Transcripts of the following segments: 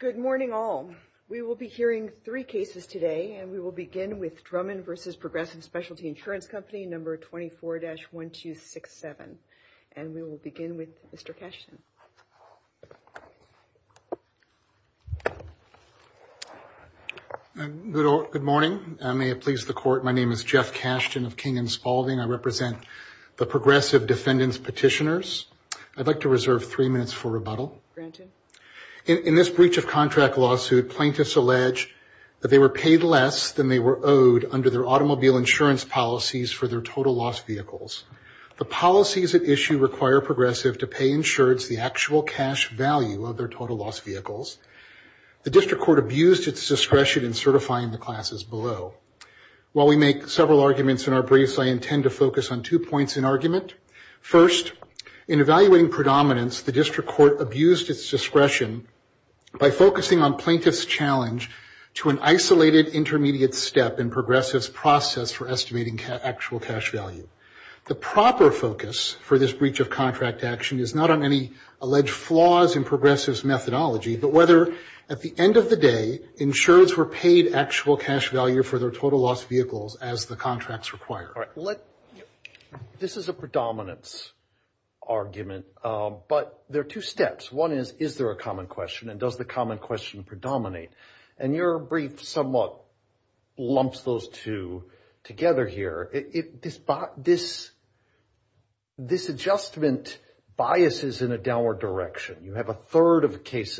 Good morning all. We will be hearing three cases today and we will begin with Drummond v. Progressive Specialty Insurance Company number 24-1267 and we will begin with Mr. Cashton. Good morning and may it please the court my name is Jeff Cashton of King & Spaulding. I represent the progressive defendants petitioners. I'd like to reserve three minutes for rebuttal. In this breach of contract lawsuit plaintiffs allege that they were paid less than they were owed under their automobile insurance policies for their total loss vehicles. The policies at issue require progressive to pay insureds the actual cash value of their total loss vehicles. The district court abused its discretion in certifying the classes below. While we make several arguments in our briefs I intend to focus on two points in argument. First in evaluating predominance the district court abused its discretion by focusing on plaintiffs challenge to an isolated intermediate step in progressives process for estimating actual cash value. The proper focus for this breach of contract action is not on any alleged flaws in progressives methodology but whether at the end of the day insureds were paid actual cash value for their total loss vehicles as the contracts required. This is a predominance argument but there are two steps. One is is there a common question and does the common question predominate and your brief somewhat lumps those two together here. This adjustment biases in a downward direction. You have a cash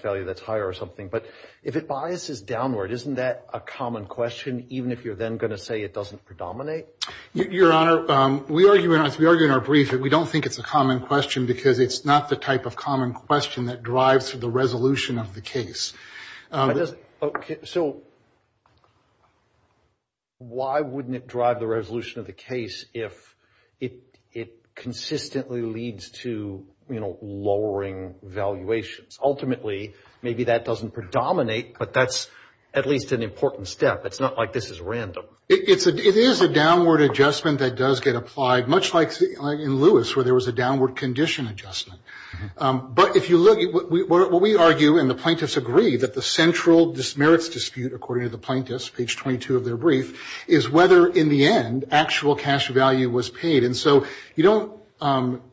value that's higher or something but if it biases downward isn't that a common question even if you're then going to say it doesn't predominate? Your honor we argue in our brief that we don't think it's a common question because it's not the type of common question that drives the resolution of the case. Okay so why wouldn't it drive the resolution of the case? Ultimately maybe that doesn't predominate but that's at least an important step. It's not like this is random. It is a downward adjustment that does get applied much like in Lewis where there was a downward condition adjustment but if you look at what we argue and the plaintiffs agree that the central dismerits dispute according to the plaintiffs page 22 of their brief is whether in the end actual cash value was paid and so you don't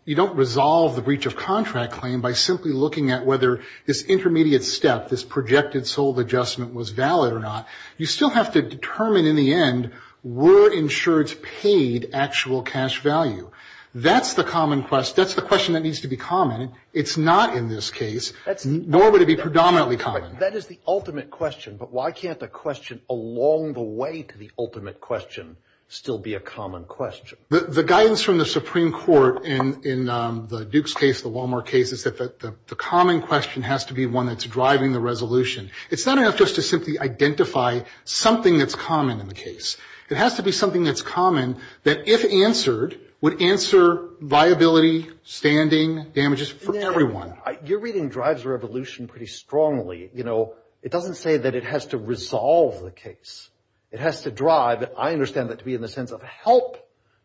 you don't resolve the breach of contract claim by simply looking at whether this intermediate step this projected sold adjustment was valid or not. You still have to determine in the end were insureds paid actual cash value. That's the common quest that's the question that needs to be common. It's not in this case that's normally to be predominantly common. That is the ultimate question but why can't the question along the way to the ultimate question still be a common question? The guidance from the Supreme Court in the Dukes case, the Walmart case, is that the common question has to be one that's driving the resolution. It's not enough just to simply identify something that's common in the case. It has to be something that's common that if answered would answer viability, standing, damages for everyone. You're reading drives a revolution pretty strongly. You know it doesn't say that it has to resolve the case. It has to drive that I understand that to be in the sense of help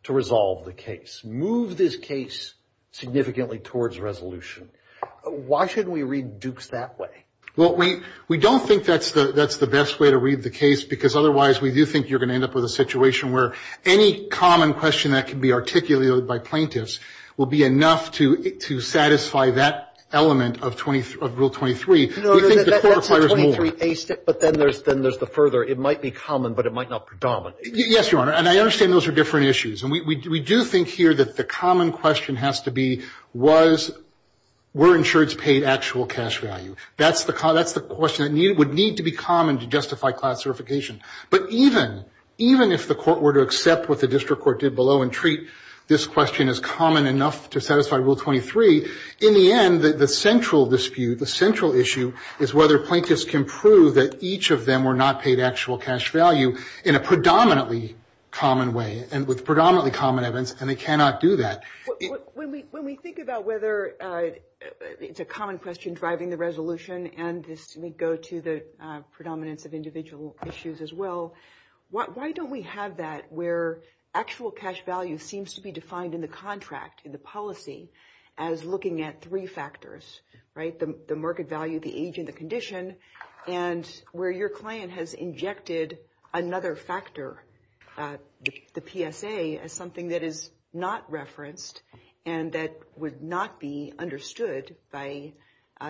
to resolve the case. Move this case significantly towards resolution. Why shouldn't we read Dukes that way? Well we we don't think that's the that's the best way to read the case because otherwise we do think you're going to end up with a situation where any common question that can be articulated by plaintiffs will be enough to satisfy that element of Rule 23. But then there's then there's the further it might be common but it might not predominate. Yes your honor and I understand those are different issues and we do think here that the common question has to be was were insureds paid actual cash value. That's the car that's the question that need would need to be common to justify class certification. But even even if the court were to accept what the district court did below and treat this question as common enough to satisfy Rule 23, in the end the central dispute the central issue is whether plaintiffs can prove that each of them were not paid actual cash value in a predominantly common way and with predominantly common evidence and they cannot do that. When we think about whether it's a common question driving the resolution and this may go to the predominance of individual issues as well, why don't we have that where actual cash value seems to be defined in the contract in the policy as looking at three factors, right? The market value, the age and the condition and where your client has injected another factor, the PSA, as something that is not referenced and that would not be understood by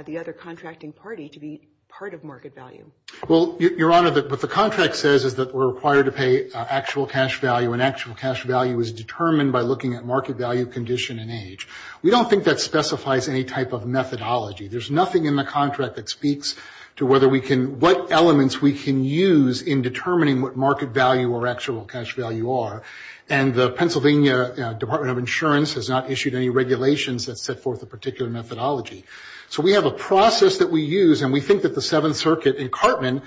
the other contracting party to be part of market value. Well your honor, what the contract says is that we're required to pay actual cash value and actual cash value is determined by looking at market value, condition and age. We don't think that specifies any type of methodology. There's nothing in the contract that speaks to whether we can, what elements we can use in determining what market value or actual cash value are and the Pennsylvania Department of Insurance has not issued any regulations that set forth a particular methodology. So we have a process that we use and we think that the Seventh Circuit in Cartman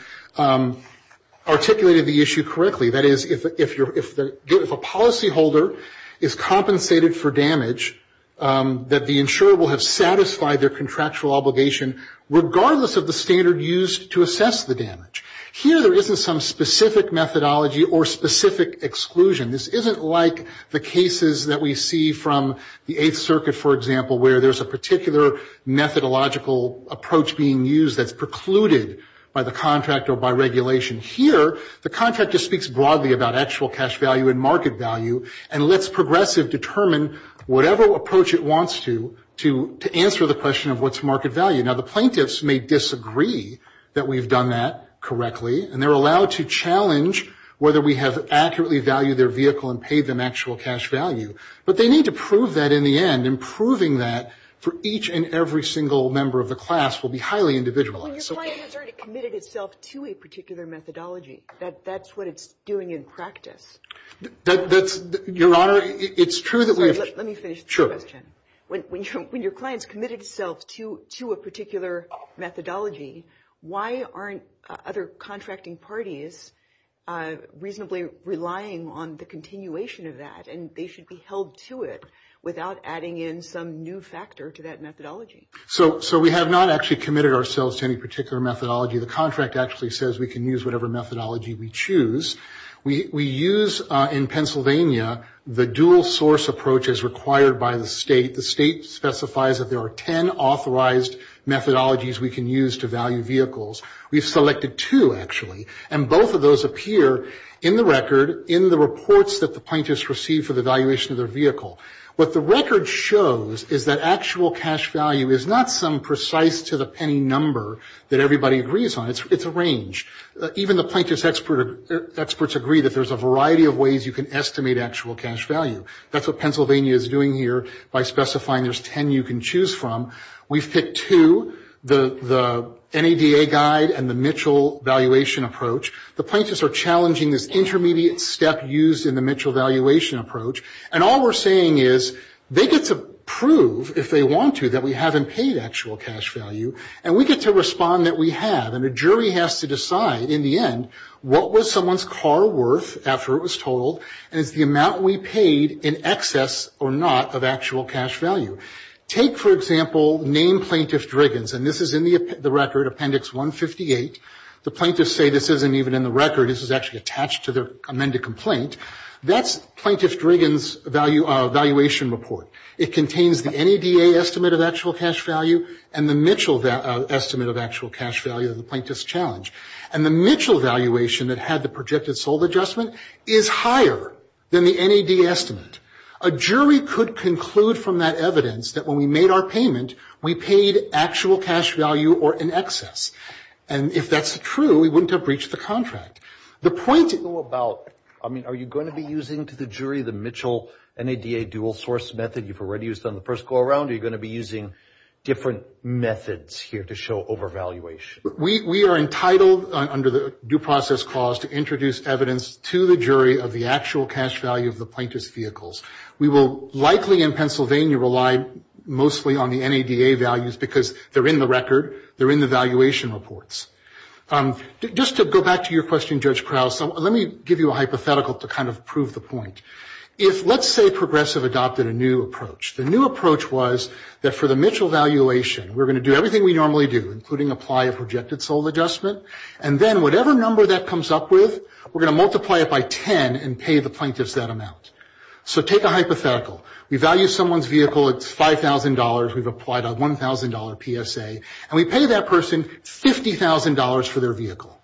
articulated the issue correctly. That is, if a policy holder is compensated for damage, that the insurer will have satisfied their contractual obligation regardless of the standard used to assess the damage. Here there isn't some specific methodology or specific exclusion. This isn't like the cases that we see from the Eighth Circuit, for example, where there's a particular methodological approach being used that's precluded by the contract or by regulation. Here the contract just speaks broadly about actual cash value and market value and lets Progressive determine whatever approach it wants to, to answer the question of what's market value. Now the plaintiffs may disagree that we've done that correctly and they're allowed to challenge whether we have accurately valued their vehicle and paid them actual cash value, but they need to prove that in the end and proving that for each and every single member of the class will be highly individualized. When your client has already committed itself to a particular methodology, that's what it's doing in practice. That's, Your Honor, it's true that we have... Let me finish the question. When your client's committed itself to a particular methodology, why aren't other contracting parties reasonably relying on the continuation of that and they should be held to it without adding in some new factor to that methodology? So we have not actually committed ourselves to any particular methodology. The contract actually says we can use whatever methodology we choose. We use in Pennsylvania the dual source approach as required by the state. The state specifies that there are 10 authorized methodologies we can use to value vehicles. We've selected two, actually, and both of those appear in the record, in the reports that the plaintiffs receive for the valuation of their vehicle. What the record shows is that actual cash value is not some precise to the penny number that everybody agrees on. It's a range. Even the plaintiff's experts agree that there's a variety of ways you can estimate actual cash value. That's what Pennsylvania is doing here by specifying there's 10 you can choose from. We've picked two, the NADA guide and the Mitchell valuation approach. The plaintiffs are challenging this intermediate step used in the Mitchell valuation approach. And all we're saying is they get to prove, if they want to, that we haven't paid actual cash value. And we get to respond that we have. And a jury has to decide, in the end, what was someone's car worth after it was totaled and it's the amount we paid in excess or not of actual cash value. Take, for example, name plaintiff Driggins. And this is in the record, Appendix 158. The amended complaint. That's plaintiff Driggins' valuation report. It contains the NADA estimate of actual cash value and the Mitchell estimate of actual cash value that the plaintiffs challenged. And the Mitchell valuation that had the projected sold adjustment is higher than the NADA estimate. A jury could conclude from that evidence that when we made our payment, we paid actual cash value or in excess. And if that's true, we wouldn't have breached the contract. The point about, I mean, are you going to be using to the jury the Mitchell NADA dual source method you've already used on the first go around? Are you going to be using different methods here to show overvaluation? We are entitled, under the due process clause, to introduce evidence to the jury of the actual cash value of the plaintiff's vehicles. We will likely, in Pennsylvania, rely mostly on the NADA values because they're in the record. They're in the valuation reports. Just to go back to your question, Judge Krause, let me give you a hypothetical to kind of prove the point. If, let's say, Progressive adopted a new approach. The new approach was that for the Mitchell valuation, we're going to do everything we normally do, including apply a projected sold adjustment. And then whatever number that comes up with, we're going to multiply it by 10 and pay the plaintiffs that amount. So take a hypothetical. We value someone's vehicle. It's $5,000. We've applied a $1,000 PSA. And we pay that person $50,000 for their vehicle.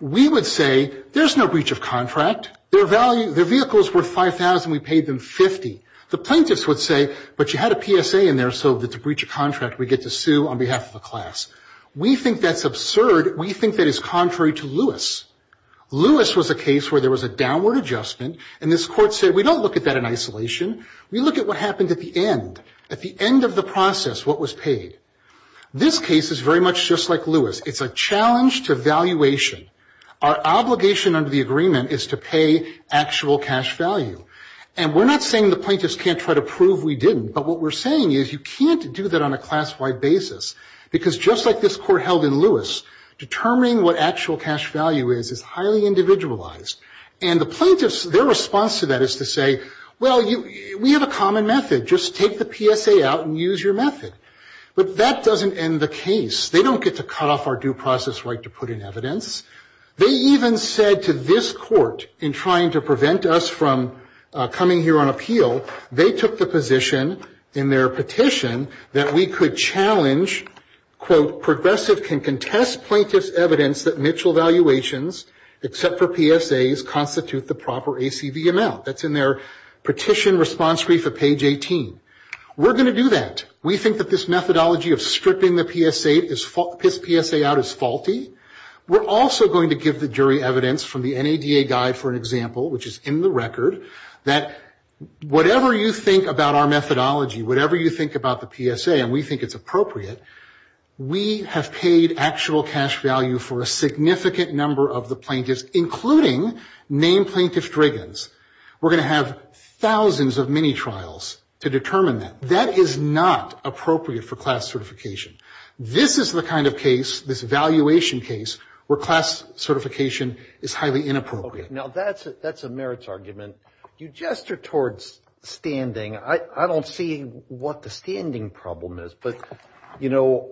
We would say, there's no breach of contract. Their vehicle is worth $5,000. We paid them $50,000. The plaintiffs would say, but you had a PSA in there, so it's a breach of contract. We get to sue on behalf of a We think that's absurd. We think that is contrary to Lewis. Lewis was a case where there was a downward adjustment. And this court said, we don't look at that in isolation. We look at what happened at the end, at the end of the process, what was paid. This case is very much just like Lewis. It's a challenge to valuation. Our obligation under the agreement is to pay actual cash value. And we're not saying the plaintiffs can't try to prove we didn't. But what we're saying is, you can't do that on a class-wide basis. Because just like this court held in Lewis, determining what actual cash value is is highly individualized. And the plaintiffs, their response to that is to say, well, we have a common method. Just take the PSA out and use your method. But that doesn't end the case. They don't get to cut off our due process right to put in evidence. They even said to this court, in trying to prevent us from coming here on appeal, they took the position in their petition that we could challenge, quote, progressive can contest plaintiff's evidence that Mitchell valuations, except for PSAs, constitute the proper ACV amount. That's in their petition response brief at page 18. We're going to do that. We think that this methodology of stripping the PSA out is faulty. We're also going to give the jury evidence from the NADA guide, for an example, which is in the record, that whatever you think about our methodology, whatever you think about the PSA, and we think it's appropriate, we have paid actual cash value for a significant number of the plaintiffs, including named plaintiff's driggins. We're going to have thousands of mini-trials to determine that. That is not appropriate for class certification. This is the kind of case, this valuation case, where class certification is highly inappropriate. Now that's a merits argument. You gesture towards standing. I don't see what the standing problem is. But, you know,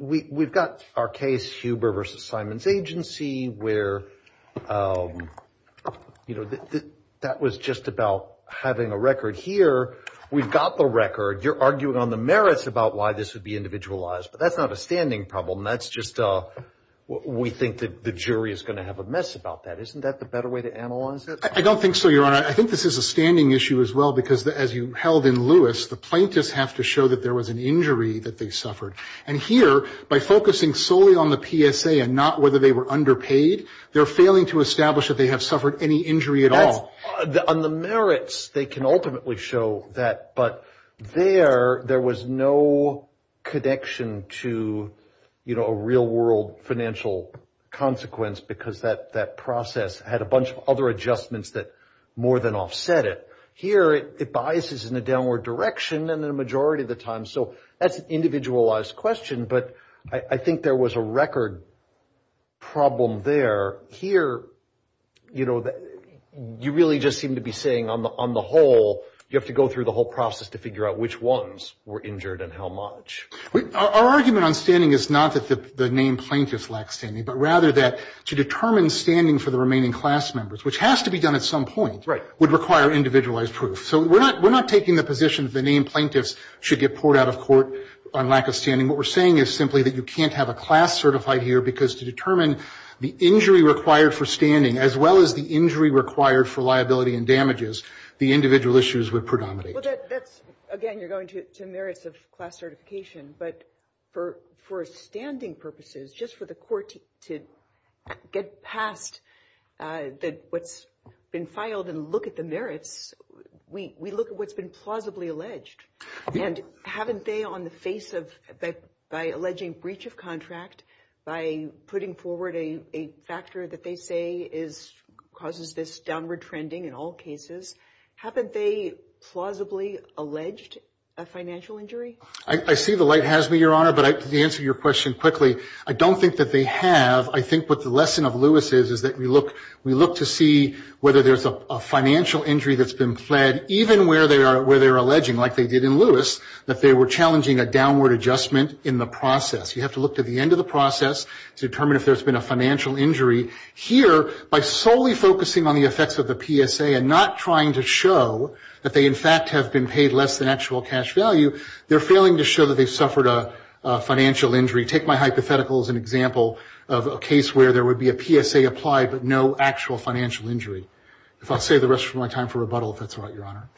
we've got our case, Huber v. Simons Agency, where, you know, that was just about having a record here. We've got the record. You're arguing on the merits about why this would be individualized. But that's not a standing problem. That's just a, we think that the jury is going to have a mess about that. Isn't that the better way to analyze it? I don't think so, Your Honor. I think this is a standing issue as well, because as you held in Lewis, the plaintiffs have to show that there was an injury that they suffered. And here, by focusing solely on the PSA and not whether they were underpaid, they're failing to establish that they have suffered any injury at all. On the merits, they can ultimately show that. But there, there was no connection to, you know, a real-world financial consequence, because that process had a bunch of other adjustments that more than offset it. Here, it biases in a downward direction, and then a majority of the time, so that's an individualized question. But I think there was a record problem there. Here, you know, you really just seem to be saying, on the whole, you have to go through the whole process to figure out which ones were injured and how much. Our argument on standing is not that the named plaintiffs lack standing, but rather that to determine standing for the remaining class members, which has to be done at some point, would require individualized proof. So we're not taking the position that the named plaintiffs should get poured out of court on lack of standing. What we're saying is simply that you can't have a class certified here, because to determine the injury required for standing, as well as the injury required for liability and damages, the individual issues would predominate. Well, that's, again, you're going to merits of class certification. But for standing purposes, just for the court to get past what's been filed and look at the merits, we look at what's been plausibly alleged. And haven't they, on the face of, by alleging breach of contract, by putting forward a factor that they say causes this downward trending in all cases, haven't they plausibly alleged a financial injury? I see the light has me, Your Honor. But to answer your question quickly, I don't think that they have. I think what the lesson of Lewis is, is that we look to see whether there's a financial injury that's been pled, even where they're alleging, like they did in Lewis, that they were challenging a downward adjustment in the process. You have to look to the end of the process to determine if there's been a financial injury. Here, by solely focusing on the effects of the PSA and not trying to show that they, in fact, have been paid less than actual cash value, they're failing to show that they've suffered a financial injury. Take my hypothetical as an example of a case where there would be a PSA applied, but no actual financial injury. If I'll save the rest of my time for rebuttal, if that's all right, Your Honor.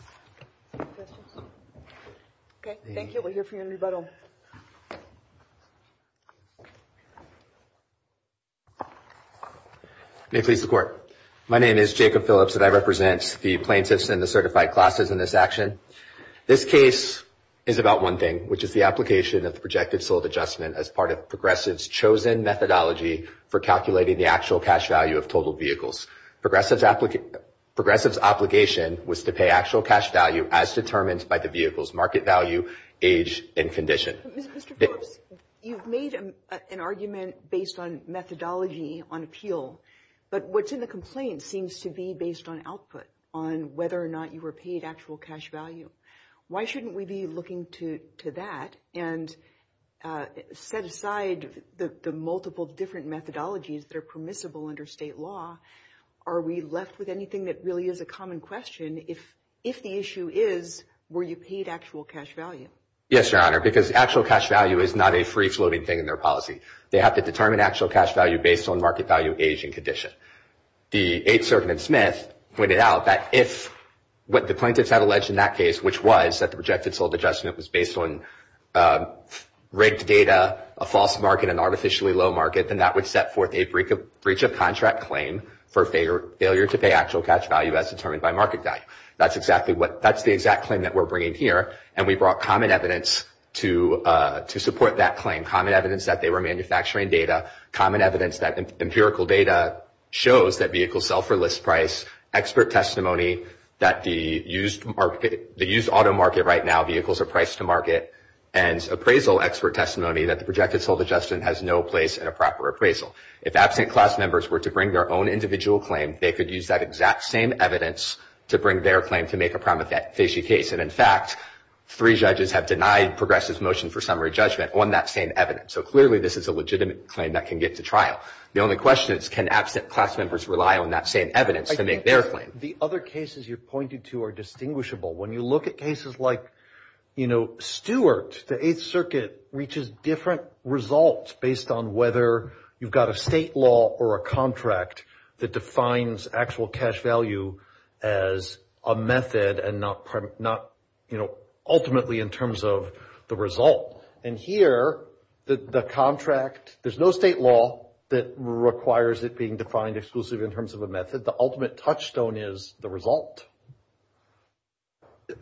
Okay. Thank you. We'll hear from you in rebuttal. May it please the Court. My name is Jacob Phillips, and I represent the plaintiffs and the certified classes in this action. This case is about one thing, which is the application of the projected sold adjustment as part of Progressive's chosen methodology for calculating the actual cash value of total vehicles. Progressive's obligation was to pay actual cash value as determined by the vehicle's market value, age, and condition. Mr. Phillips, you've made an argument based on methodology on appeal, but what's in the argument seems to be based on output, on whether or not you were paid actual cash value. Why shouldn't we be looking to that and set aside the multiple different methodologies that are permissible under state law? Are we left with anything that really is a common question if the issue is, were you paid actual cash value? Yes, Your Honor, because actual cash value is not a free-floating thing in their policy. They have to determine actual cash value based on market value, age, and condition. The Eighth Circuit in Smith pointed out that if what the plaintiffs had alleged in that case, which was that the projected sold adjustment was based on rigged data, a false market, an artificially low market, then that would set forth a breach of contract claim for failure to pay actual cash value as determined by market value. That's the exact claim that we're bringing here, and we brought common evidence to support that claim, common evidence that they were manufacturing data, common evidence that empirical data shows that vehicles sell for list price, expert testimony that the used auto market right now, vehicles are priced to market, and appraisal expert testimony that the projected sold adjustment has no place in a proper appraisal. If absent class members were to bring their own individual claim, they could use that exact same evidence to bring their claim to make a prima facie case, and in fact, three judges have denied progressive motion for summary judgment on that same evidence. So clearly, this is a legitimate claim that can get to trial. The only question is, can absent class members rely on that same evidence to make their claim? The other cases you're pointing to are distinguishable. When you look at cases like, you know, Stewart, the Eighth Circuit reaches different results based on whether you've got a state law or a contract that defines actual cash value as a method and not, you know, ultimately in terms of the result. And here, the contract, there's no state law that requires it being defined exclusively in terms of a method. The ultimate touchstone is the result.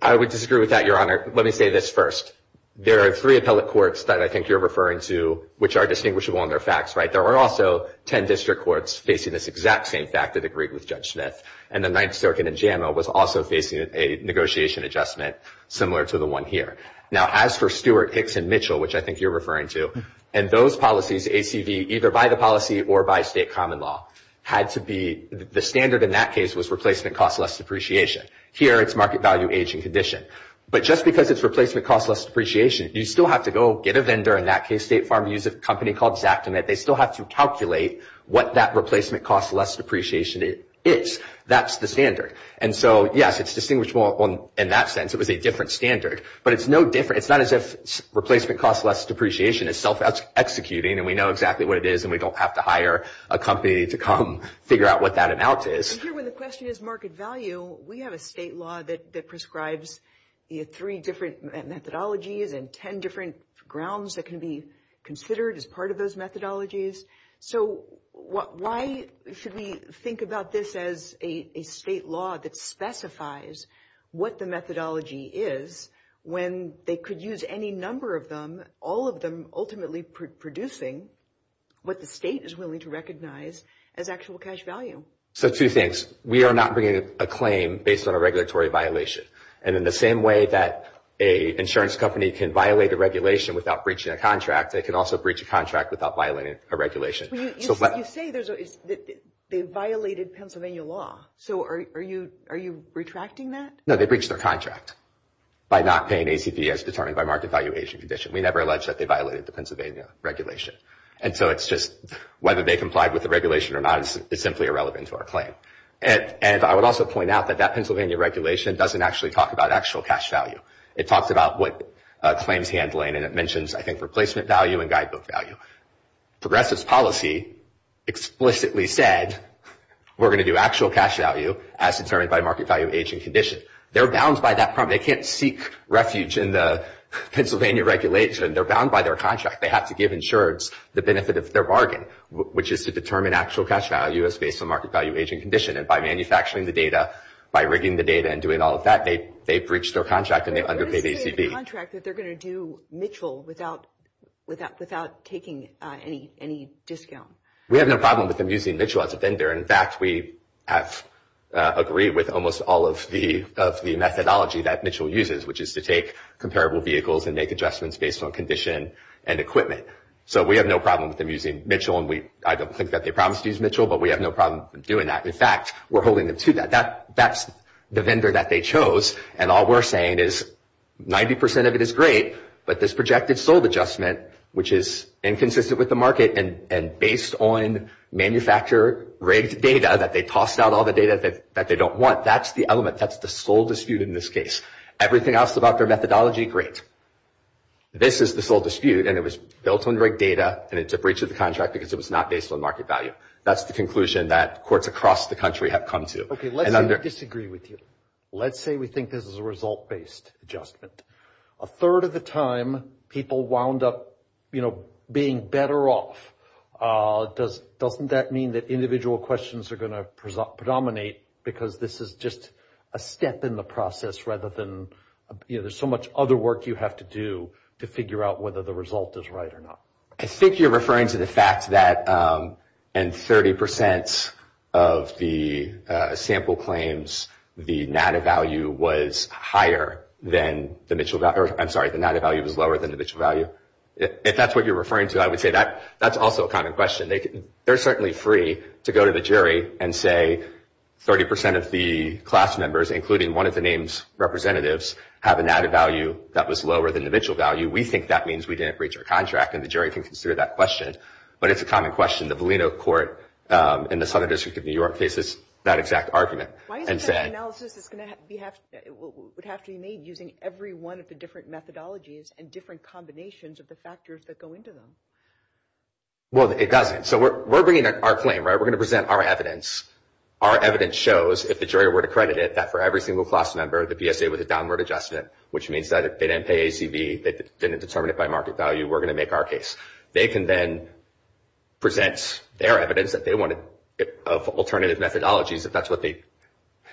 I would disagree with that, Your Honor. Let me say this first. There are three appellate courts that I think you're referring to which are distinguishable in their facts, right? There are also 10 district courts facing this exact same fact that agreed with Judge Smith, and the Ninth Circuit in JAMA was also facing a negotiation adjustment similar to the one here. Now, as for Stewart, Hicks, and Mitchell, which I think you're referring to, and those policies, ACV, either by the policy or by state common law, had to be, the standard in that case was replacement cost less depreciation. Here, it's market value, age, and condition. But just because it's replacement cost less depreciation, you still have to go get a vendor. In that case, State Farm used a company called Zactimate. They still have to calculate what that replacement cost less depreciation is. That's the standard. And so, yes, it's distinguishable in that sense. It was a different standard. But it's no different. It's not as if replacement cost less depreciation is self-executing, and we know exactly what it is, and we don't have to hire a company to come figure out what that amount is. And here, when the question is market value, we have a state law that prescribes three different methodologies and 10 different grounds that can be considered as part of those methodologies. So, why should we think about this as a state law that specifies what the methodology is when they could use any number of them, all of them ultimately producing what the state is willing to recognize as actual cash value? So, two things. We are not bringing a claim based on a regulatory violation. And in the same way that an insurance company can violate a regulation without breaching a contract, they can also breach a contract without violating a regulation. You say they violated Pennsylvania law. So, are you retracting that? No, they breached their contract by not paying ACP as determined by market valuation condition. We never alleged that they violated the Pennsylvania regulation. And so, it's just whether they complied with the regulation or not is simply irrelevant to our claim. And I would also point out that that Pennsylvania regulation doesn't actually talk about actual cash value. It talks about what claims handling and it mentions, I think, replacement value and guidebook value. Progressive's policy explicitly said we're going to do actual cash value as determined by market value age and condition. They're bound by that problem. They can't seek refuge in the Pennsylvania regulation. They're bound by their contract. They have to give insureds the benefit of their bargain, which is to determine actual cash value as based on market value age and condition. And by manufacturing the data, by rigging the data and doing all of that, they breached their contract and they underpaid ACP. But what does it say in the contract that they're going to do Mitchell without taking any discount? We have no problem with them using Mitchell as a vendor. In fact, we have agreed with almost all of the methodology that Mitchell uses, which is to take comparable vehicles and make adjustments based on condition and equipment. So we have no problem with them using Mitchell. And I don't think that they promised to use Mitchell, but we have no problem doing that. In fact, we're holding them to that. That's the vendor that they chose. And all we're saying is 90% of it is great, but this projected sold adjustment, which is inconsistent with the market and based on manufacturer-rigged data that they tossed out all the data that they don't want, that's the element. That's the sole dispute in this case. Everything else about their methodology, great. This is the sole dispute, and it was built on rigged data, and it's a breach of the contract because it was not based on market value. That's the conclusion that courts across the country have come to. Okay, let's say we disagree with you. Let's say we think this is a result-based adjustment. A third of the time, people wound up, you know, being better off. Doesn't that mean that individual questions are going to predominate because this is just a step in the process rather than, you know, there's so much other work you have to do to figure out whether the result is right or not? I think you're referring to the fact that in 30% of the sample claims, the NADA value was higher than the Mitchell value. I'm sorry, the NADA value was lower than the Mitchell value. If that's what you're referring to, I would say that's also a common question. They're certainly free to go to the jury and say 30% of the class members, including one of the names' representatives, have a NADA value that was lower than the Mitchell value. We think that means we didn't breach our contract, and the jury can consider that question. But it's a common question. The Volino Court in the Southern District of New York faces that exact argument. Why is it that analysis would have to be made using every one of the different methodologies and different combinations of the factors that go into them? Well, it doesn't. So we're bringing our claim, right? We're going to present our evidence. Our evidence shows, if the jury were to credit it, that for every single class member, the PSA was a downward adjustment, which means that if they didn't pay ACV, they didn't determine it by market value, we're going to make our case. They can then present their evidence of alternative methodologies,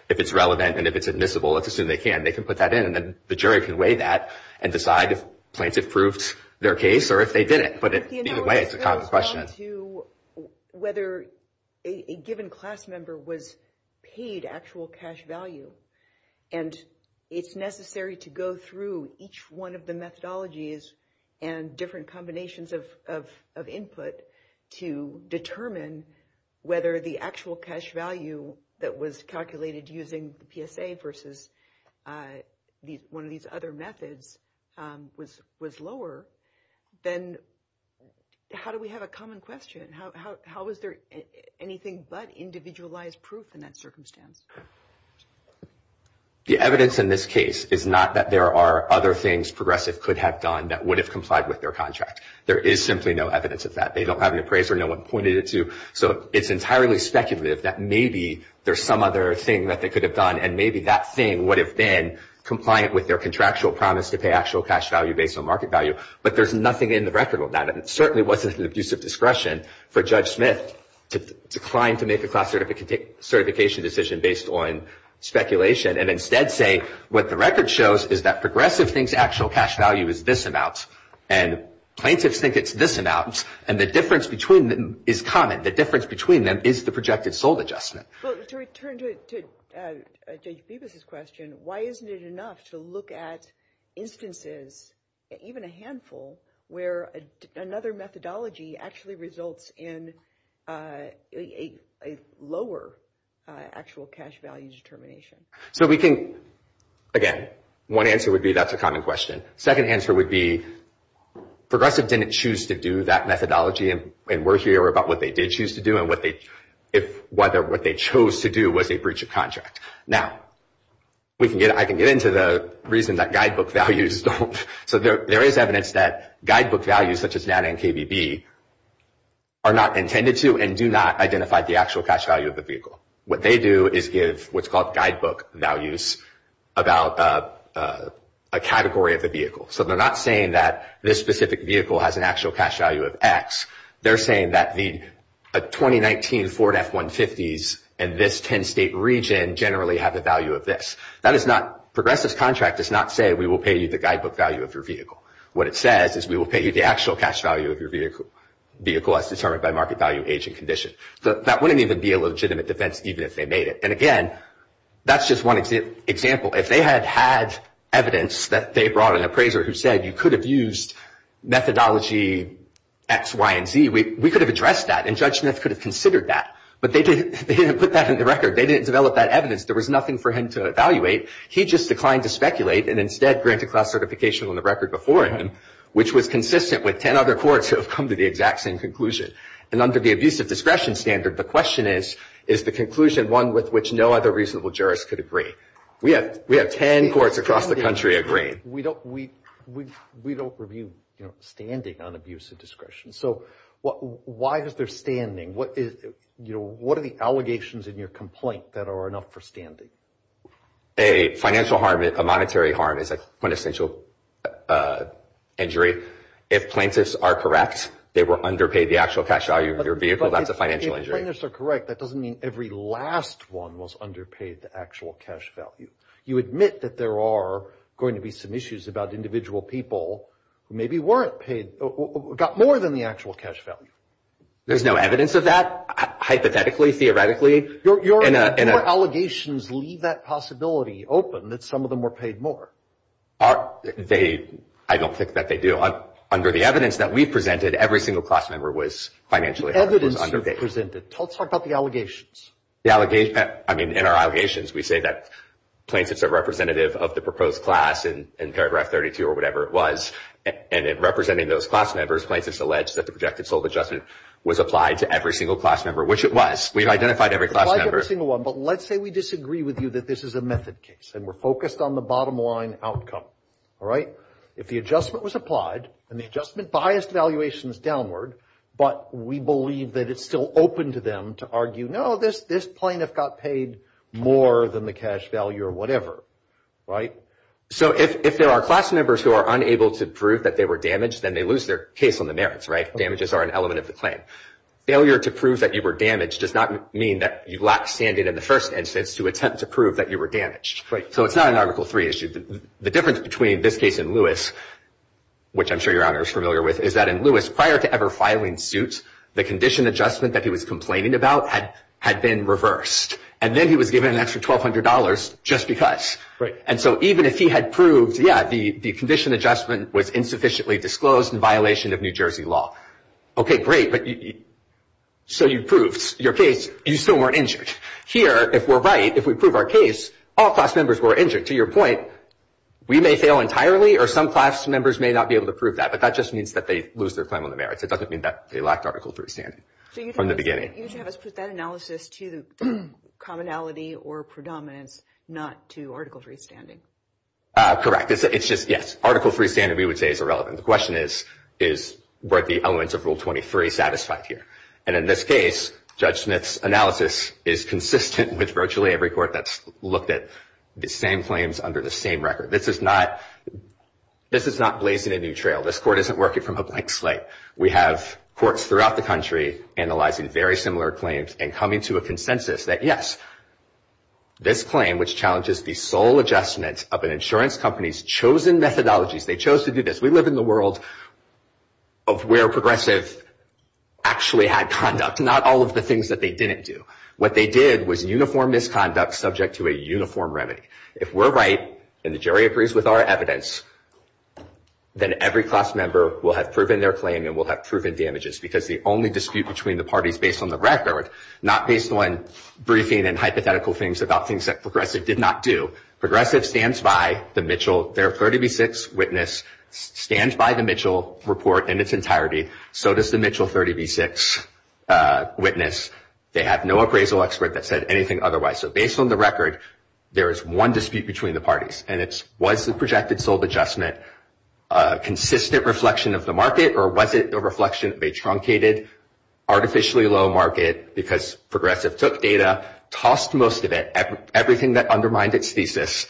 if it's relevant and if it's admissible. Let's assume they can. They can put that in, and then the jury can weigh that and decide if plaintiff proved their case or if they didn't. But either way, it's a common question. To whether a given class member was paid actual cash value, and it's necessary to go through each one of the methodologies and different combinations of input to determine whether the actual cash value that was calculated using the PSA versus one of these other methods was lower, then how do we have a common question? How is there anything but individualized proof in that circumstance? The evidence in this case is not that there are other things Progressive could have done that would have complied with their contract. There is simply no evidence of that. They don't have an appraiser. No one pointed it to. So it's entirely speculative that maybe there's some other thing that they could have done, and maybe that thing would have been compliant with their contractual promise to pay actual cash value based on market value. There's nothing in the record of that, and it certainly wasn't an abuse of discretion for Judge Smith to decline to make a class certification decision based on speculation, and instead say what the record shows is that Progressive thinks actual cash value is this amount, and plaintiffs think it's this amount, and the difference between them is common. The difference between them is the projected sold adjustment. Well, to return to Judge Peebles' question, why isn't it enough to look at instances, even a handful, where another methodology actually results in a lower actual cash value determination? So we can, again, one answer would be that's a common question. Second answer would be Progressive didn't choose to do that methodology, and we're here about what they did choose to do and whether what they chose to do was a breach of contract. Now, I can get into the reason that guidebook values don't. So there is evidence that guidebook values, such as NANA and KBB, are not intended to and do not identify the actual cash value of the vehicle. What they do is give what's called guidebook values about a category of the vehicle. So they're not saying that this specific vehicle has an actual cash value of X. They're saying that the 2019 Ford F-150s in this 10-state region generally have the value of this. Progressive's contract does not say we will pay you the guidebook value of your vehicle. What it says is we will pay you the actual cash value of your vehicle as determined by market value, age, and condition. That wouldn't even be a legitimate defense even if they made it. And again, that's just one example. If they had had evidence that they brought an appraiser who said you could have used methodology X, Y, and Z, we could have addressed that, and Judge Smith could have considered that. But they didn't put that in the record. They didn't develop that evidence. There was nothing for him to evaluate. He just declined to speculate and instead granted class certification on the record before him, which was consistent with 10 other courts who have come to the exact same conclusion. And under the abusive discretion standard, the question is, is the conclusion one with which no other reasonable jurist could agree? We have 10 courts across the country agreeing. We don't review standing on abusive discretion. So why is there standing? What are the allegations in your complaint that are enough for standing? A financial harm, a monetary harm is a quintessential injury. If plaintiffs are correct, they were underpaid the actual cash value of your vehicle, that's a financial injury. If plaintiffs are correct, that doesn't mean every last one was underpaid the actual cash value. You admit that there are going to be some issues about individual people who maybe weren't paid, got more than the actual cash value. There's no evidence of that, hypothetically, theoretically. Your allegations leave that possibility open, that some of them were paid more. I don't think that they do. Under the evidence that we've presented, every single class member was financially underpaid. The evidence you've presented. Let's talk about the allegations. In our allegations, we say that plaintiffs are representative of the proposed class in paragraph 32 or whatever it was. And in representing those class members, plaintiffs allege that the projected sold adjustment was applied to every single class member, which it was. We've identified every class member. We've identified every single one, but let's say we disagree with you that this is a method case, and we're focused on the bottom line outcome. If the adjustment was applied and the adjustment biased valuations downward, but we believe that it's still open to them to argue, no, this plaintiff got paid more than the cash value or whatever. If there are class members who are unable to prove that they were damaged, then they lose their case on the merits. Damages are an element of the claim. Failure to prove that you were damaged does not mean that you lack standing in the first instance to attempt to prove that you were damaged. So it's not an Article III issue. The difference between this case and Lewis, which I'm sure Your Honor is familiar with, is that in Lewis, prior to ever filing suit, the condition adjustment that he was complaining about had been reversed. And then he was given an extra $1,200 just because. And so even if he had proved, yeah, the condition adjustment was insufficiently disclosed in violation of New Jersey law. Okay, great. But so you proved your case, you still weren't injured. Here, if we're right, if we prove our case, all class members were injured. To your point, we may fail entirely or some class members may not be able to prove that. But that just means that they lose their claim on the merits. It doesn't mean that they lacked Article III standing from the beginning. So you'd have us put that analysis to commonality or predominance, not to Article III standing. Correct. It's just, yes, Article III standing, we would say is irrelevant. The question is, is were the elements of Rule 23 satisfied here? And in this case, Judge Smith's analysis is consistent with virtually every court that's looked at the same claims under the same record. This is not blazing a new trail. This court isn't working from a blank slate. We have courts throughout the country analyzing very similar claims and coming to a consensus that, yes, this claim, which challenges the sole adjustment of an insurance company's chosen methodologies, they chose to do this. We live in the world of where Progressive actually had conduct, not all of the things that they didn't do. What they did was uniform misconduct subject to a uniform remedy. If we're right, and the jury agrees with our evidence, then every class member will have proven their claim and will have proven damages because the only dispute between the parties based on the record, not based on briefing and hypothetical things about things that Progressive did not do, Progressive stands by the Mitchell, their 30B6 witness, stands by the Mitchell report in its entirety. So does the Mitchell 30B6 witness. They have no appraisal expert that said anything otherwise. So based on the record, there is one dispute between the parties and it's was the projected sole adjustment a consistent reflection of the market or was it a reflection of a truncated, artificially low market because Progressive took data, tossed most of it, everything that undermined its thesis,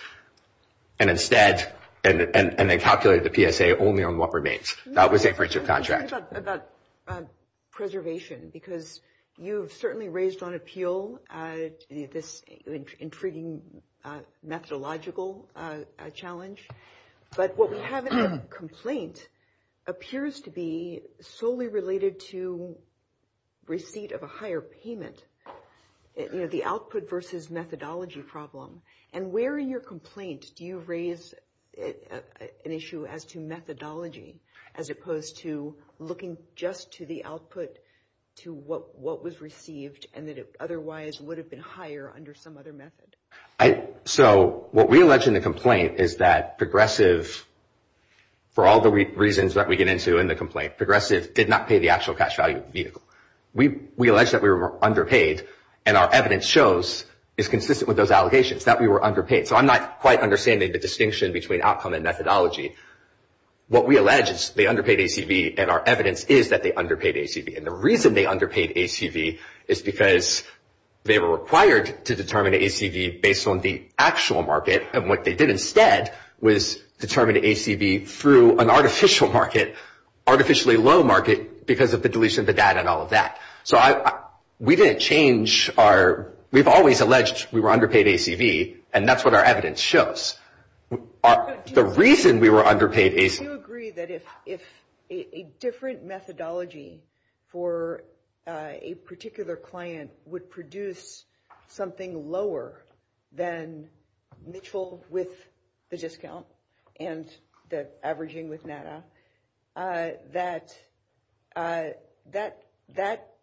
and instead, and they calculated the PSA only on what remains. That was a friendship contract. I'm curious about preservation because you've certainly raised on appeal this intriguing methodological challenge, but what we have in the complaint appears to be solely related to receipt of a higher payment. The output versus methodology problem and where in your complaint do you raise an issue as to methodology as opposed to looking just to the output to what was received and that it otherwise would have been higher under some other method? So what we allege in the complaint is that Progressive, for all the reasons that we get into in the complaint, Progressive did not pay the actual cash value of the vehicle. We allege that we were underpaid and our evidence shows is consistent with those allegations. So I'm not quite understanding the distinction between outcome and methodology. What we allege is they underpaid ACV and our evidence is that they underpaid ACV and the reason they underpaid ACV is because they were required to determine ACV based on the actual market and what they did instead was determine ACV through an artificial market, artificially low market because of the deletion of the data and all of that. So we didn't change our, we've always alleged we were underpaid ACV and that's what our evidence shows. The reason we were underpaid ACV- Do you agree that if a different methodology for a particular client would produce something lower than Mitchell with the discount and the averaging with NADA, that that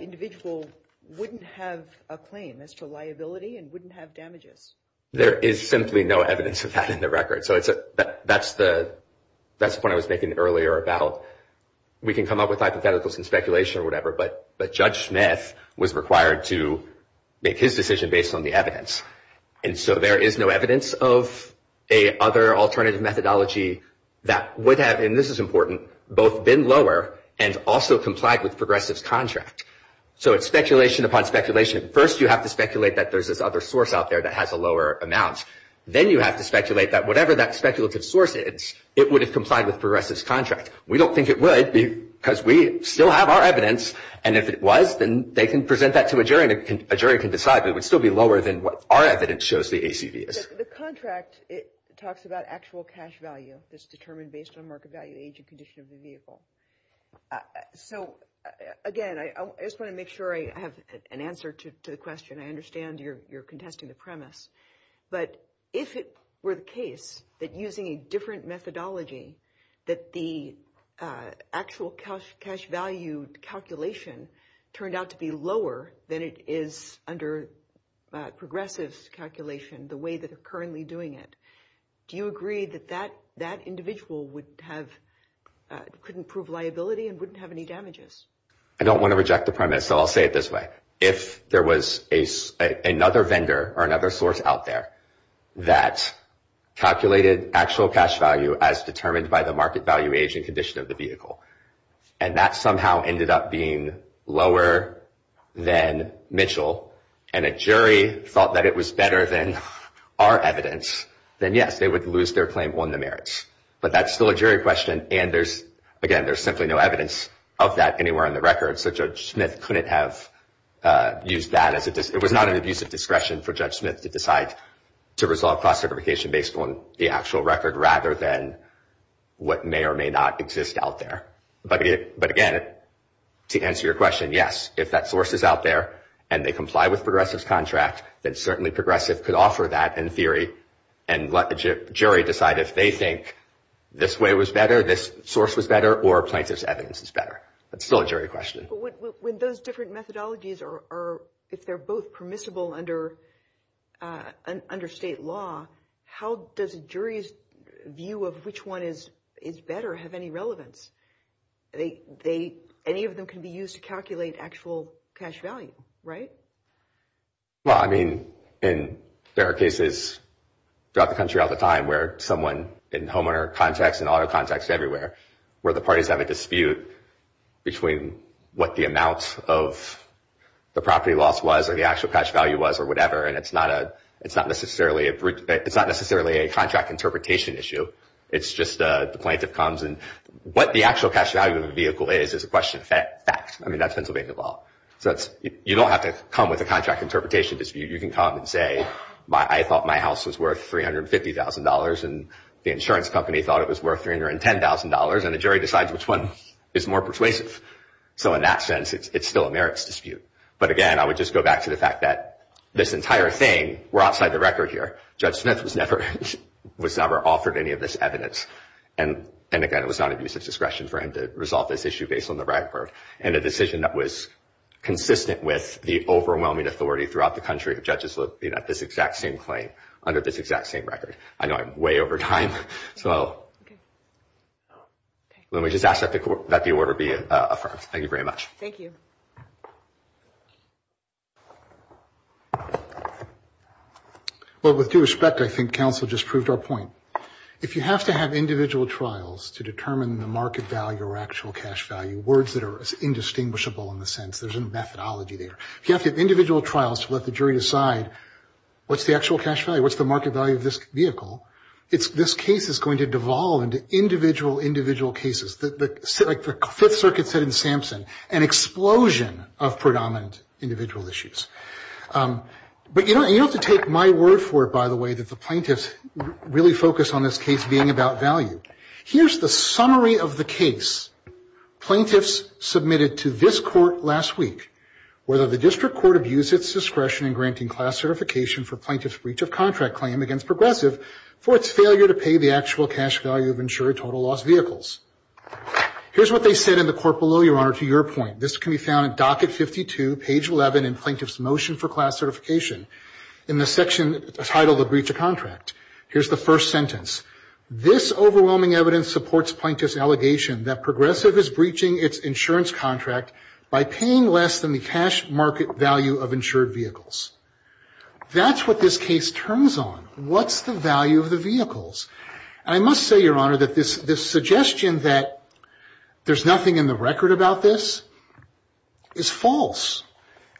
individual wouldn't have a claim as to liability and wouldn't have damages? There is simply no evidence of that in the record. So that's the point I was making earlier about we can come up with hypotheticals and speculation or whatever, but Judge Smith was required to make his decision based on the evidence. And so there is no evidence of a other alternative methodology that would have, and this is important, both been lower and also complied with Progressive's contract. So it's speculation upon speculation. First, you have to speculate that there's this other source out there that has a lower amount. Then you have to speculate that whatever that speculative source is, it would have complied with Progressive's contract. We don't think it would because we still have our evidence and if it was, then they can present that to a jury and a jury can decide but it would still be lower than what our evidence shows the ACV is. The contract, it talks about actual cash value that's determined based on market value, age and condition of the vehicle. So again, I just want to make sure I have an answer to the question. I understand you're contesting the premise, but if it were the case that using a different methodology that the actual cash value calculation turned out to be lower than it is under Progressive's calculation, the way that they're currently doing it, do you agree that that individual couldn't prove liability and wouldn't have any damages? I don't want to reject the premise, so I'll say it this way. If there was another vendor or another source out there that calculated actual cash value as determined by the market value, age and condition of the vehicle and that somehow ended up being lower than Mitchell and a jury thought that it was better than our evidence, then yes, they would lose their claim on the merits. But that's still a jury question, and there's, again, there's simply no evidence of that anywhere on the record, so Judge Smith couldn't have used that as it was not an abusive discretion for Judge Smith to decide to resolve cross-certification based on the actual record rather than what may or may not exist out there. But again, to answer your question, yes, if that source is out there and they comply with Progressive's contract, then certainly Progressive could offer that in theory and let the jury decide if they think this way was better, this source was better, or plaintiff's evidence is better. That's still a jury question. But when those different methodologies are, if they're both permissible under state law, how does a jury's view of which one is better have any relevance? Any of them can be used to calculate actual cash value, right? Well, I mean, in fair cases throughout the country all the time where someone, in homeowner contacts and auto contacts everywhere, where the parties have a dispute between what the amount of the property loss was or the actual cash value was or whatever, and it's not necessarily a contract interpretation issue. It's just the plaintiff comes and what the actual cash value of the vehicle is, is a question of fact. I mean, that's Pennsylvania law. So you don't have to come with a contract interpretation dispute. You can come and say, I thought my house was worth $350,000 and the insurance company thought it was worth $310,000 and the jury decides which one is more persuasive. So in that sense, it's still a merits dispute. But again, I would just go back to the fact that this entire thing, we're outside the record here, Judge Smith was never offered any of this evidence. And again, it was not at his discretion for him to resolve this issue based on the Bradford and a decision that was consistent with the overwhelming authority throughout the country of judges looking at this exact same claim under this exact same record. I know I'm way over time. So let me just ask that the order be affirmed. Thank you very much. Thank you. Well, with due respect, I think counsel just proved our point. If you have to have individual trials to determine the market value or actual cash value, words that are indistinguishable in the sense there's a methodology there. If you have to have individual trials to let the jury decide what's the actual cash value, what's the market value of this vehicle, this case is going to devolve into individual, individual cases. Like the Fifth Circuit said in Sampson, an explosion of predominant individual issues. But you don't have to take my word for it, by the way, that the plaintiffs really focus on this case being about value. Here's the summary of the case plaintiffs submitted to this court last week. Whether the district court abused its discretion in granting class certification for plaintiff's breach of contract claim against Progressive for its failure to pay the actual cash value of insured total loss vehicles. Here's what they said in the court below, Your Honor, to your point. This can be found at docket 52, page 11 in plaintiff's motion for class certification in the section titled the breach of contract. Here's the first sentence. This overwhelming evidence supports plaintiff's allegation that Progressive is breaching its insurance contract by paying less than the cash market value of insured vehicles. That's what this case turns on. What's the value of the vehicles? And I must say, Your Honor, that this suggestion that there's nothing in the record about this is false.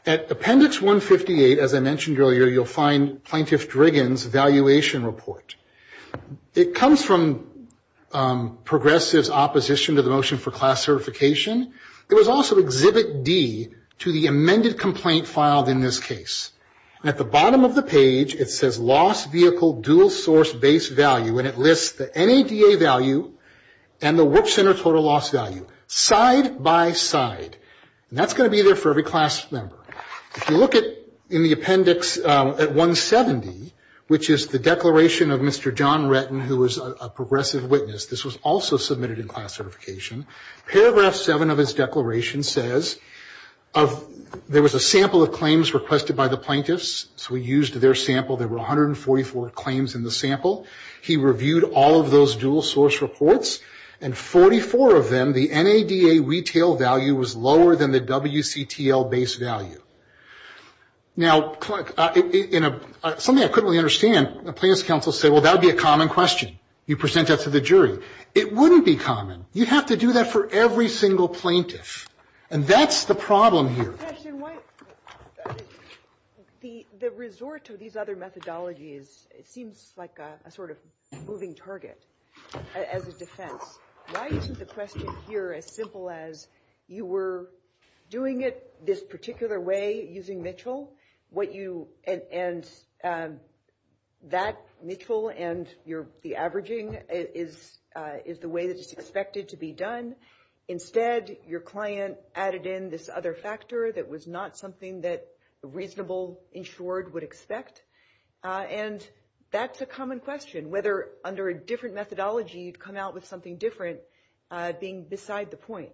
At appendix 158, as I mentioned earlier, you'll find plaintiff Driggin's valuation report. It comes from Progressive's opposition to the motion for class certification. There was also exhibit D to the amended complaint filed in this case. At the bottom of the page, it says lost vehicle dual source base value, and it lists the NADA value and the work center total loss value side by side. And that's going to be there for every class member. If you look at in the appendix at 170, which is the declaration of Mr. John Retton, who was a Progressive witness. This was also submitted in class certification. Paragraph 7 of his declaration says there was a sample of claims requested by the plaintiffs. So we used their sample. There were 144 claims in the sample. He reviewed all of those dual source reports, and 44 of them, the NADA retail value was lower than the WCTL base value. Now, something I couldn't really understand, plaintiff's counsel said, well, that would be a common question. You present that to the jury. It wouldn't be common. You'd have to do that for every single plaintiff. And that's the problem here. Professor, the resort to these other methodologies, it seems like a sort of moving target as a defense. Why isn't the question here as simple as you were doing it this particular way using Mitchell, what you and that Mitchell and the averaging is the way that it's expected to be done. Instead, your client added in this other factor that was not something that a reasonable insured would expect. And that's a common question, whether under a different methodology, you'd come out with something different being beside the point.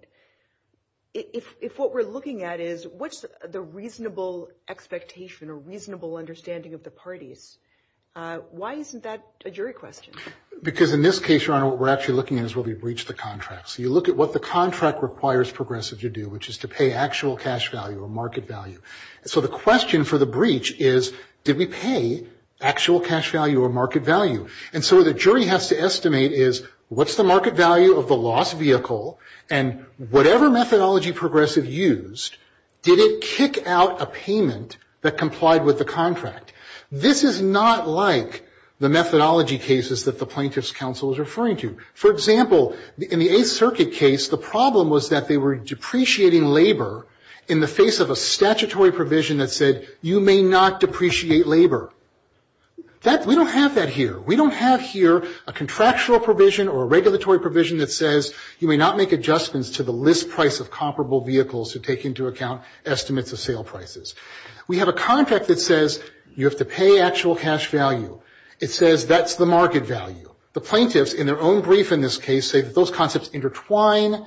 If what we're looking at is what's the reasonable expectation or reasonable understanding of the parties, why isn't that a jury question? Because in this case, what we're actually looking at is will we breach the contract? So you look at what the contract requires progressive to do, which is to pay actual cash value or market value. So the question for the breach is, did we pay actual cash value or market value? And so the jury has to estimate is, what's the market value of the lost vehicle? And whatever methodology progressive used, did it kick out a payment that complied with the contract? This is not like the methodology cases that the plaintiff's counsel is referring to. For example, in the Eighth Circuit case, the problem was that they were depreciating labor in the face of a statutory provision that said, you may not depreciate labor. We don't have that here. We don't have here a contractual provision or a regulatory provision that says, you may not make adjustments to the list price of comparable vehicles who take into account estimates of sale prices. We have a contract that says, you have to pay actual cash value. It says, that's the market value. The plaintiffs, in their own brief in this case, say that those concepts intertwine.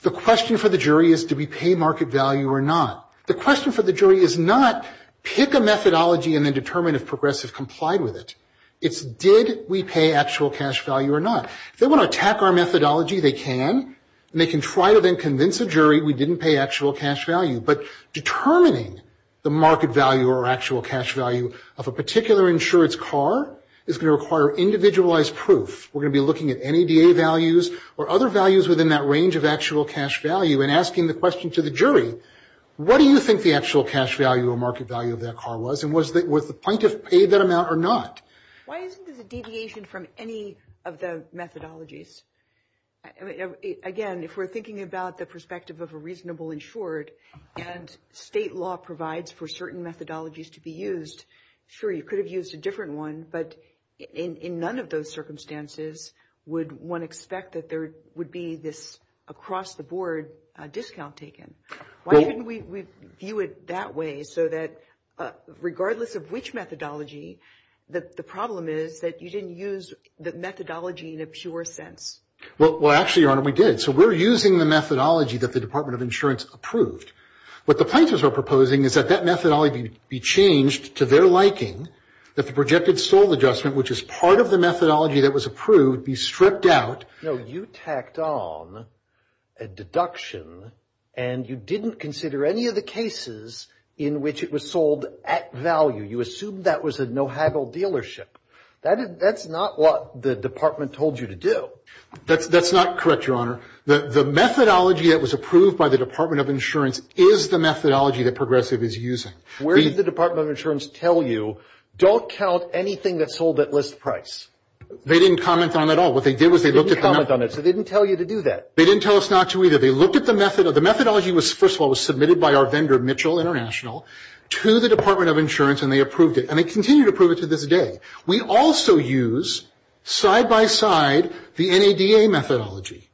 The question for the jury is, do we pay market value or not? The question for the jury is not, pick a methodology and then determine if progressive complied with it. It's, did we pay actual cash value or not? If they want to attack our methodology, they can. They can try to then convince a jury we didn't pay actual cash value. But determining the market value or actual cash value of a particular insurance car is going to require individualized proof. We're going to be looking at NADA values or other values within that range of actual cash value and asking the question to the jury, what do you think the actual cash value or market value of that car was? And was the plaintiff paid that amount or not? Why isn't there a deviation from any of the methodologies? Again, if we're thinking about the perspective of a reasonable insured and state law provides for certain methodologies to be used, sure, you could have used a different one, but in none of those circumstances would one expect that there would be this across the board discount taken. Why didn't we view it that way so that regardless of which methodology, the problem is that you didn't use the methodology in a pure sense. Well, actually, Your Honor, we did. So we're using the methodology that the Department of Insurance approved. What the plaintiffs are proposing is that that methodology be changed to their liking, that the projected sold adjustment, which is part of the methodology that was approved, be stripped out. No, you tacked on a deduction and you didn't consider any of the cases in which it was sold at value. You assumed that was a no haggle dealership. That's not what the department told you to do. That's not correct, Your Honor. The methodology that was approved by the Department of Insurance is the methodology that Progressive is using. Where did the Department of Insurance tell you, don't count anything that's sold at list price? They didn't comment on that at all. What they did was they looked at the methodology. They didn't tell you to do that. They didn't tell us not to either. They looked at the methodology. The methodology, first of all, was submitted by our vendor, Mitchell International, to the Department of Insurance and they approved it. And they continue to approve it to this day. We also use, side by side, the NADA methodology.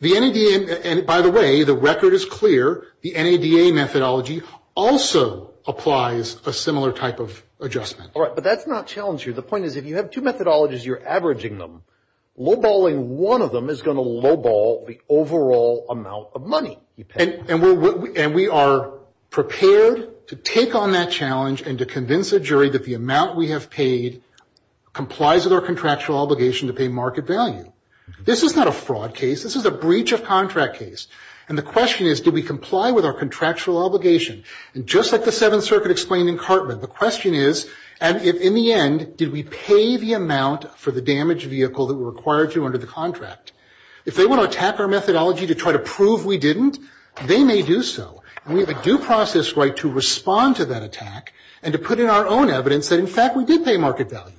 The NADA, and by the way, the record is clear, the NADA methodology also applies a similar type of adjustment. All right, but that's not challenging. The point is, if you have two methodologies, you're averaging them. Lowballing one of them is going to lowball the overall amount of money you pay. And we are prepared to take on that challenge and to convince a jury that the amount we have paid complies with our contractual obligation to pay market value. This is not a fraud case. This is a breach of contract case. And the question is, do we comply with our contractual obligation? And just like the Seventh Circuit explained in Cartman, the question is, and in the end, did we pay the amount for the damaged vehicle that we were required to under the contract? If they want to attack our methodology to try to prove we didn't, they may do so. And we have a due process right to respond to that attack and to put in our own evidence that in fact we did pay market value.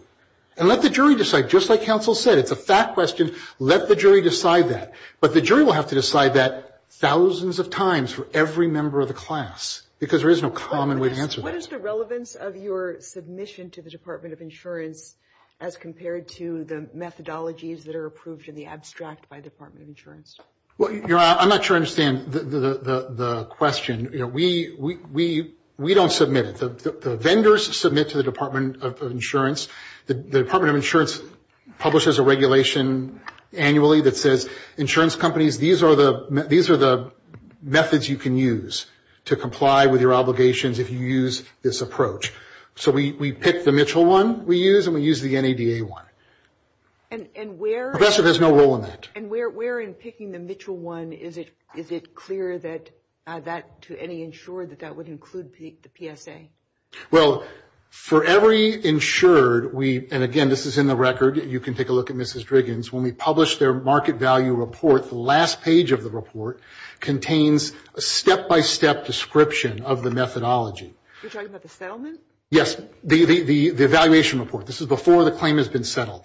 And let the jury decide. Just like counsel said, it's a fact question. Let the jury decide that. But the jury will have to decide that thousands of times for every member of the class. Because there is no common way to answer that. What is the relevance of your submission to the Department of Insurance as compared to the methodologies that are approved in the abstract by the Department of Insurance? Well, I'm not sure I understand the question. We don't submit it. The vendors submit to the Department of Insurance. The Department of Insurance publishes a regulation annually that says insurance companies, these are the methods you can use to comply with your obligations if you use this approach. So we pick the Mitchell one we use and we use the NADA one. And where... Professor has no role in that. And where in picking the Mitchell one is it clear that to any insured that that would include the PSA? Well, for every insured we, and again, this is in the record. You can take a look at Mrs. Driggins. When we publish their market value report, the last page of the report contains a step-by-step description of the methodology. You're talking about the settlement? Yes, the evaluation report. This is before the claim has been settled.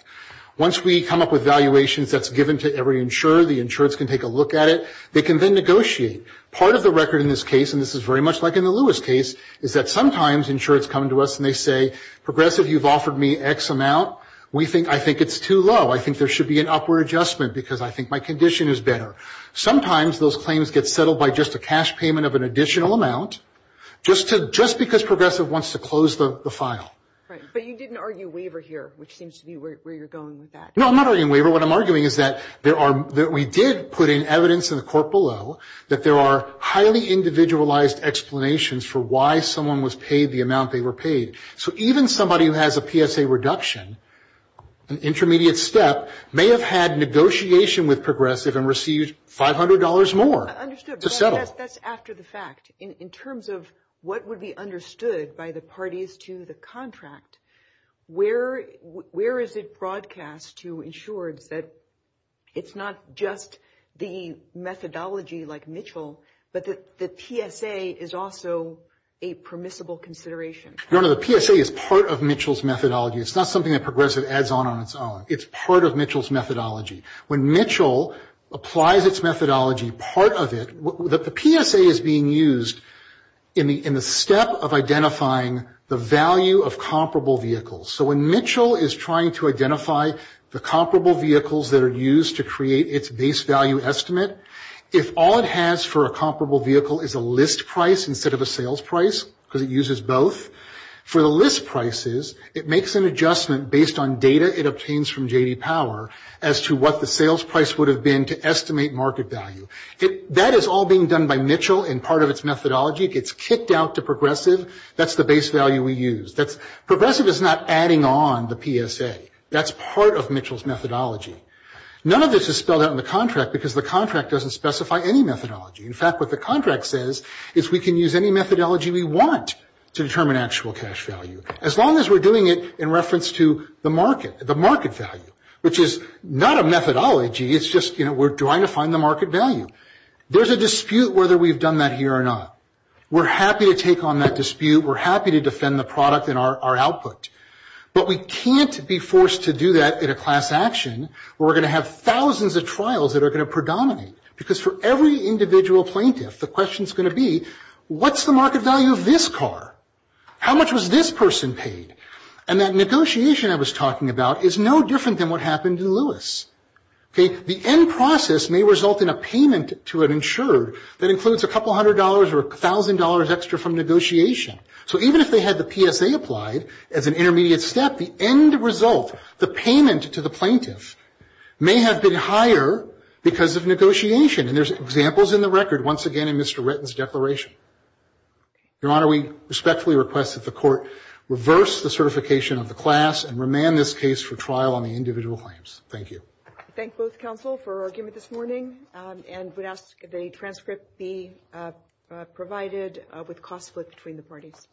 Once we come up with valuations that's given to every insured, the insureds can take a look at it. They can then negotiate. Part of the record in this case, and this is very much like in the Lewis case, is that sometimes insureds come to us and they say, Progressive, you've offered me X amount. We think, I think it's too low. I think there should be an upward adjustment because I think my condition is better. Sometimes those claims get settled by just a cash payment of an additional amount just because Progressive wants to close the file. Right, but you didn't argue waiver here, which seems to be where you're going with that. No, I'm not arguing waiver. What I'm arguing is that we did put in evidence in the court below that there are highly individualized explanations for why someone was paid the amount they were paid. So even somebody who has a PSA reduction, an intermediate step, may have had negotiation with Progressive and received $500 more to settle. That's after the fact. In terms of what would be understood by the parties to the contract, where is it broadcast to insureds that it's not just the methodology like Mitchell, but that the PSA is also a permissible consideration? No, no, the PSA is part of Mitchell's methodology. It's not something that Progressive adds on on its own. It's part of Mitchell's methodology. When Mitchell applies its methodology, part of it, the PSA is being used in the step of identifying the value of comparable vehicles. So when Mitchell is trying to identify the comparable vehicles that are used to create its base value estimate, if all it has for a comparable vehicle is a list price instead of a sales price, because it uses both, for the list prices, it makes an adjustment based on data it obtains from J.D. Power as to what the sales price would have been to estimate market value. That is all being done by Mitchell in part of its methodology. It gets kicked out to Progressive. That's the base value we use. Progressive is not adding on the PSA. That's part of Mitchell's methodology. None of this is spelled out in the contract because the contract doesn't specify any methodology. In fact, what the contract says is we can use any methodology we want to determine actual cash value. As long as we're doing it in reference to the market, the market value, which is not a methodology, it's just, you know, we're trying to find the market value. There's a dispute whether we've done that here or not. We're happy to take on that dispute. We're happy to defend the product and our output. But we can't be forced to do that in a class action where we're going to have thousands of trials that are going to predominate. Because for every individual plaintiff, the question's going to be, what's the market value of this car? How much was this person paid? And that negotiation I was talking about is no different than what happened to Lewis. Okay? The end process may result in a payment to an insured that includes a couple hundred dollars or a thousand dollars extra from negotiation. So even if they had the PSA applied as an intermediate step, the end result, the payment to the plaintiff, may have been higher because of negotiation. And there's examples in the record, once again, in Mr. Ritten's declaration. Your Honor, we respectfully request that the court reverse the certification of the class and remand this case for trial on the individual claims. Thank you. I thank both counsel for argument this morning and would ask the transcript be provided with cost split between the parties.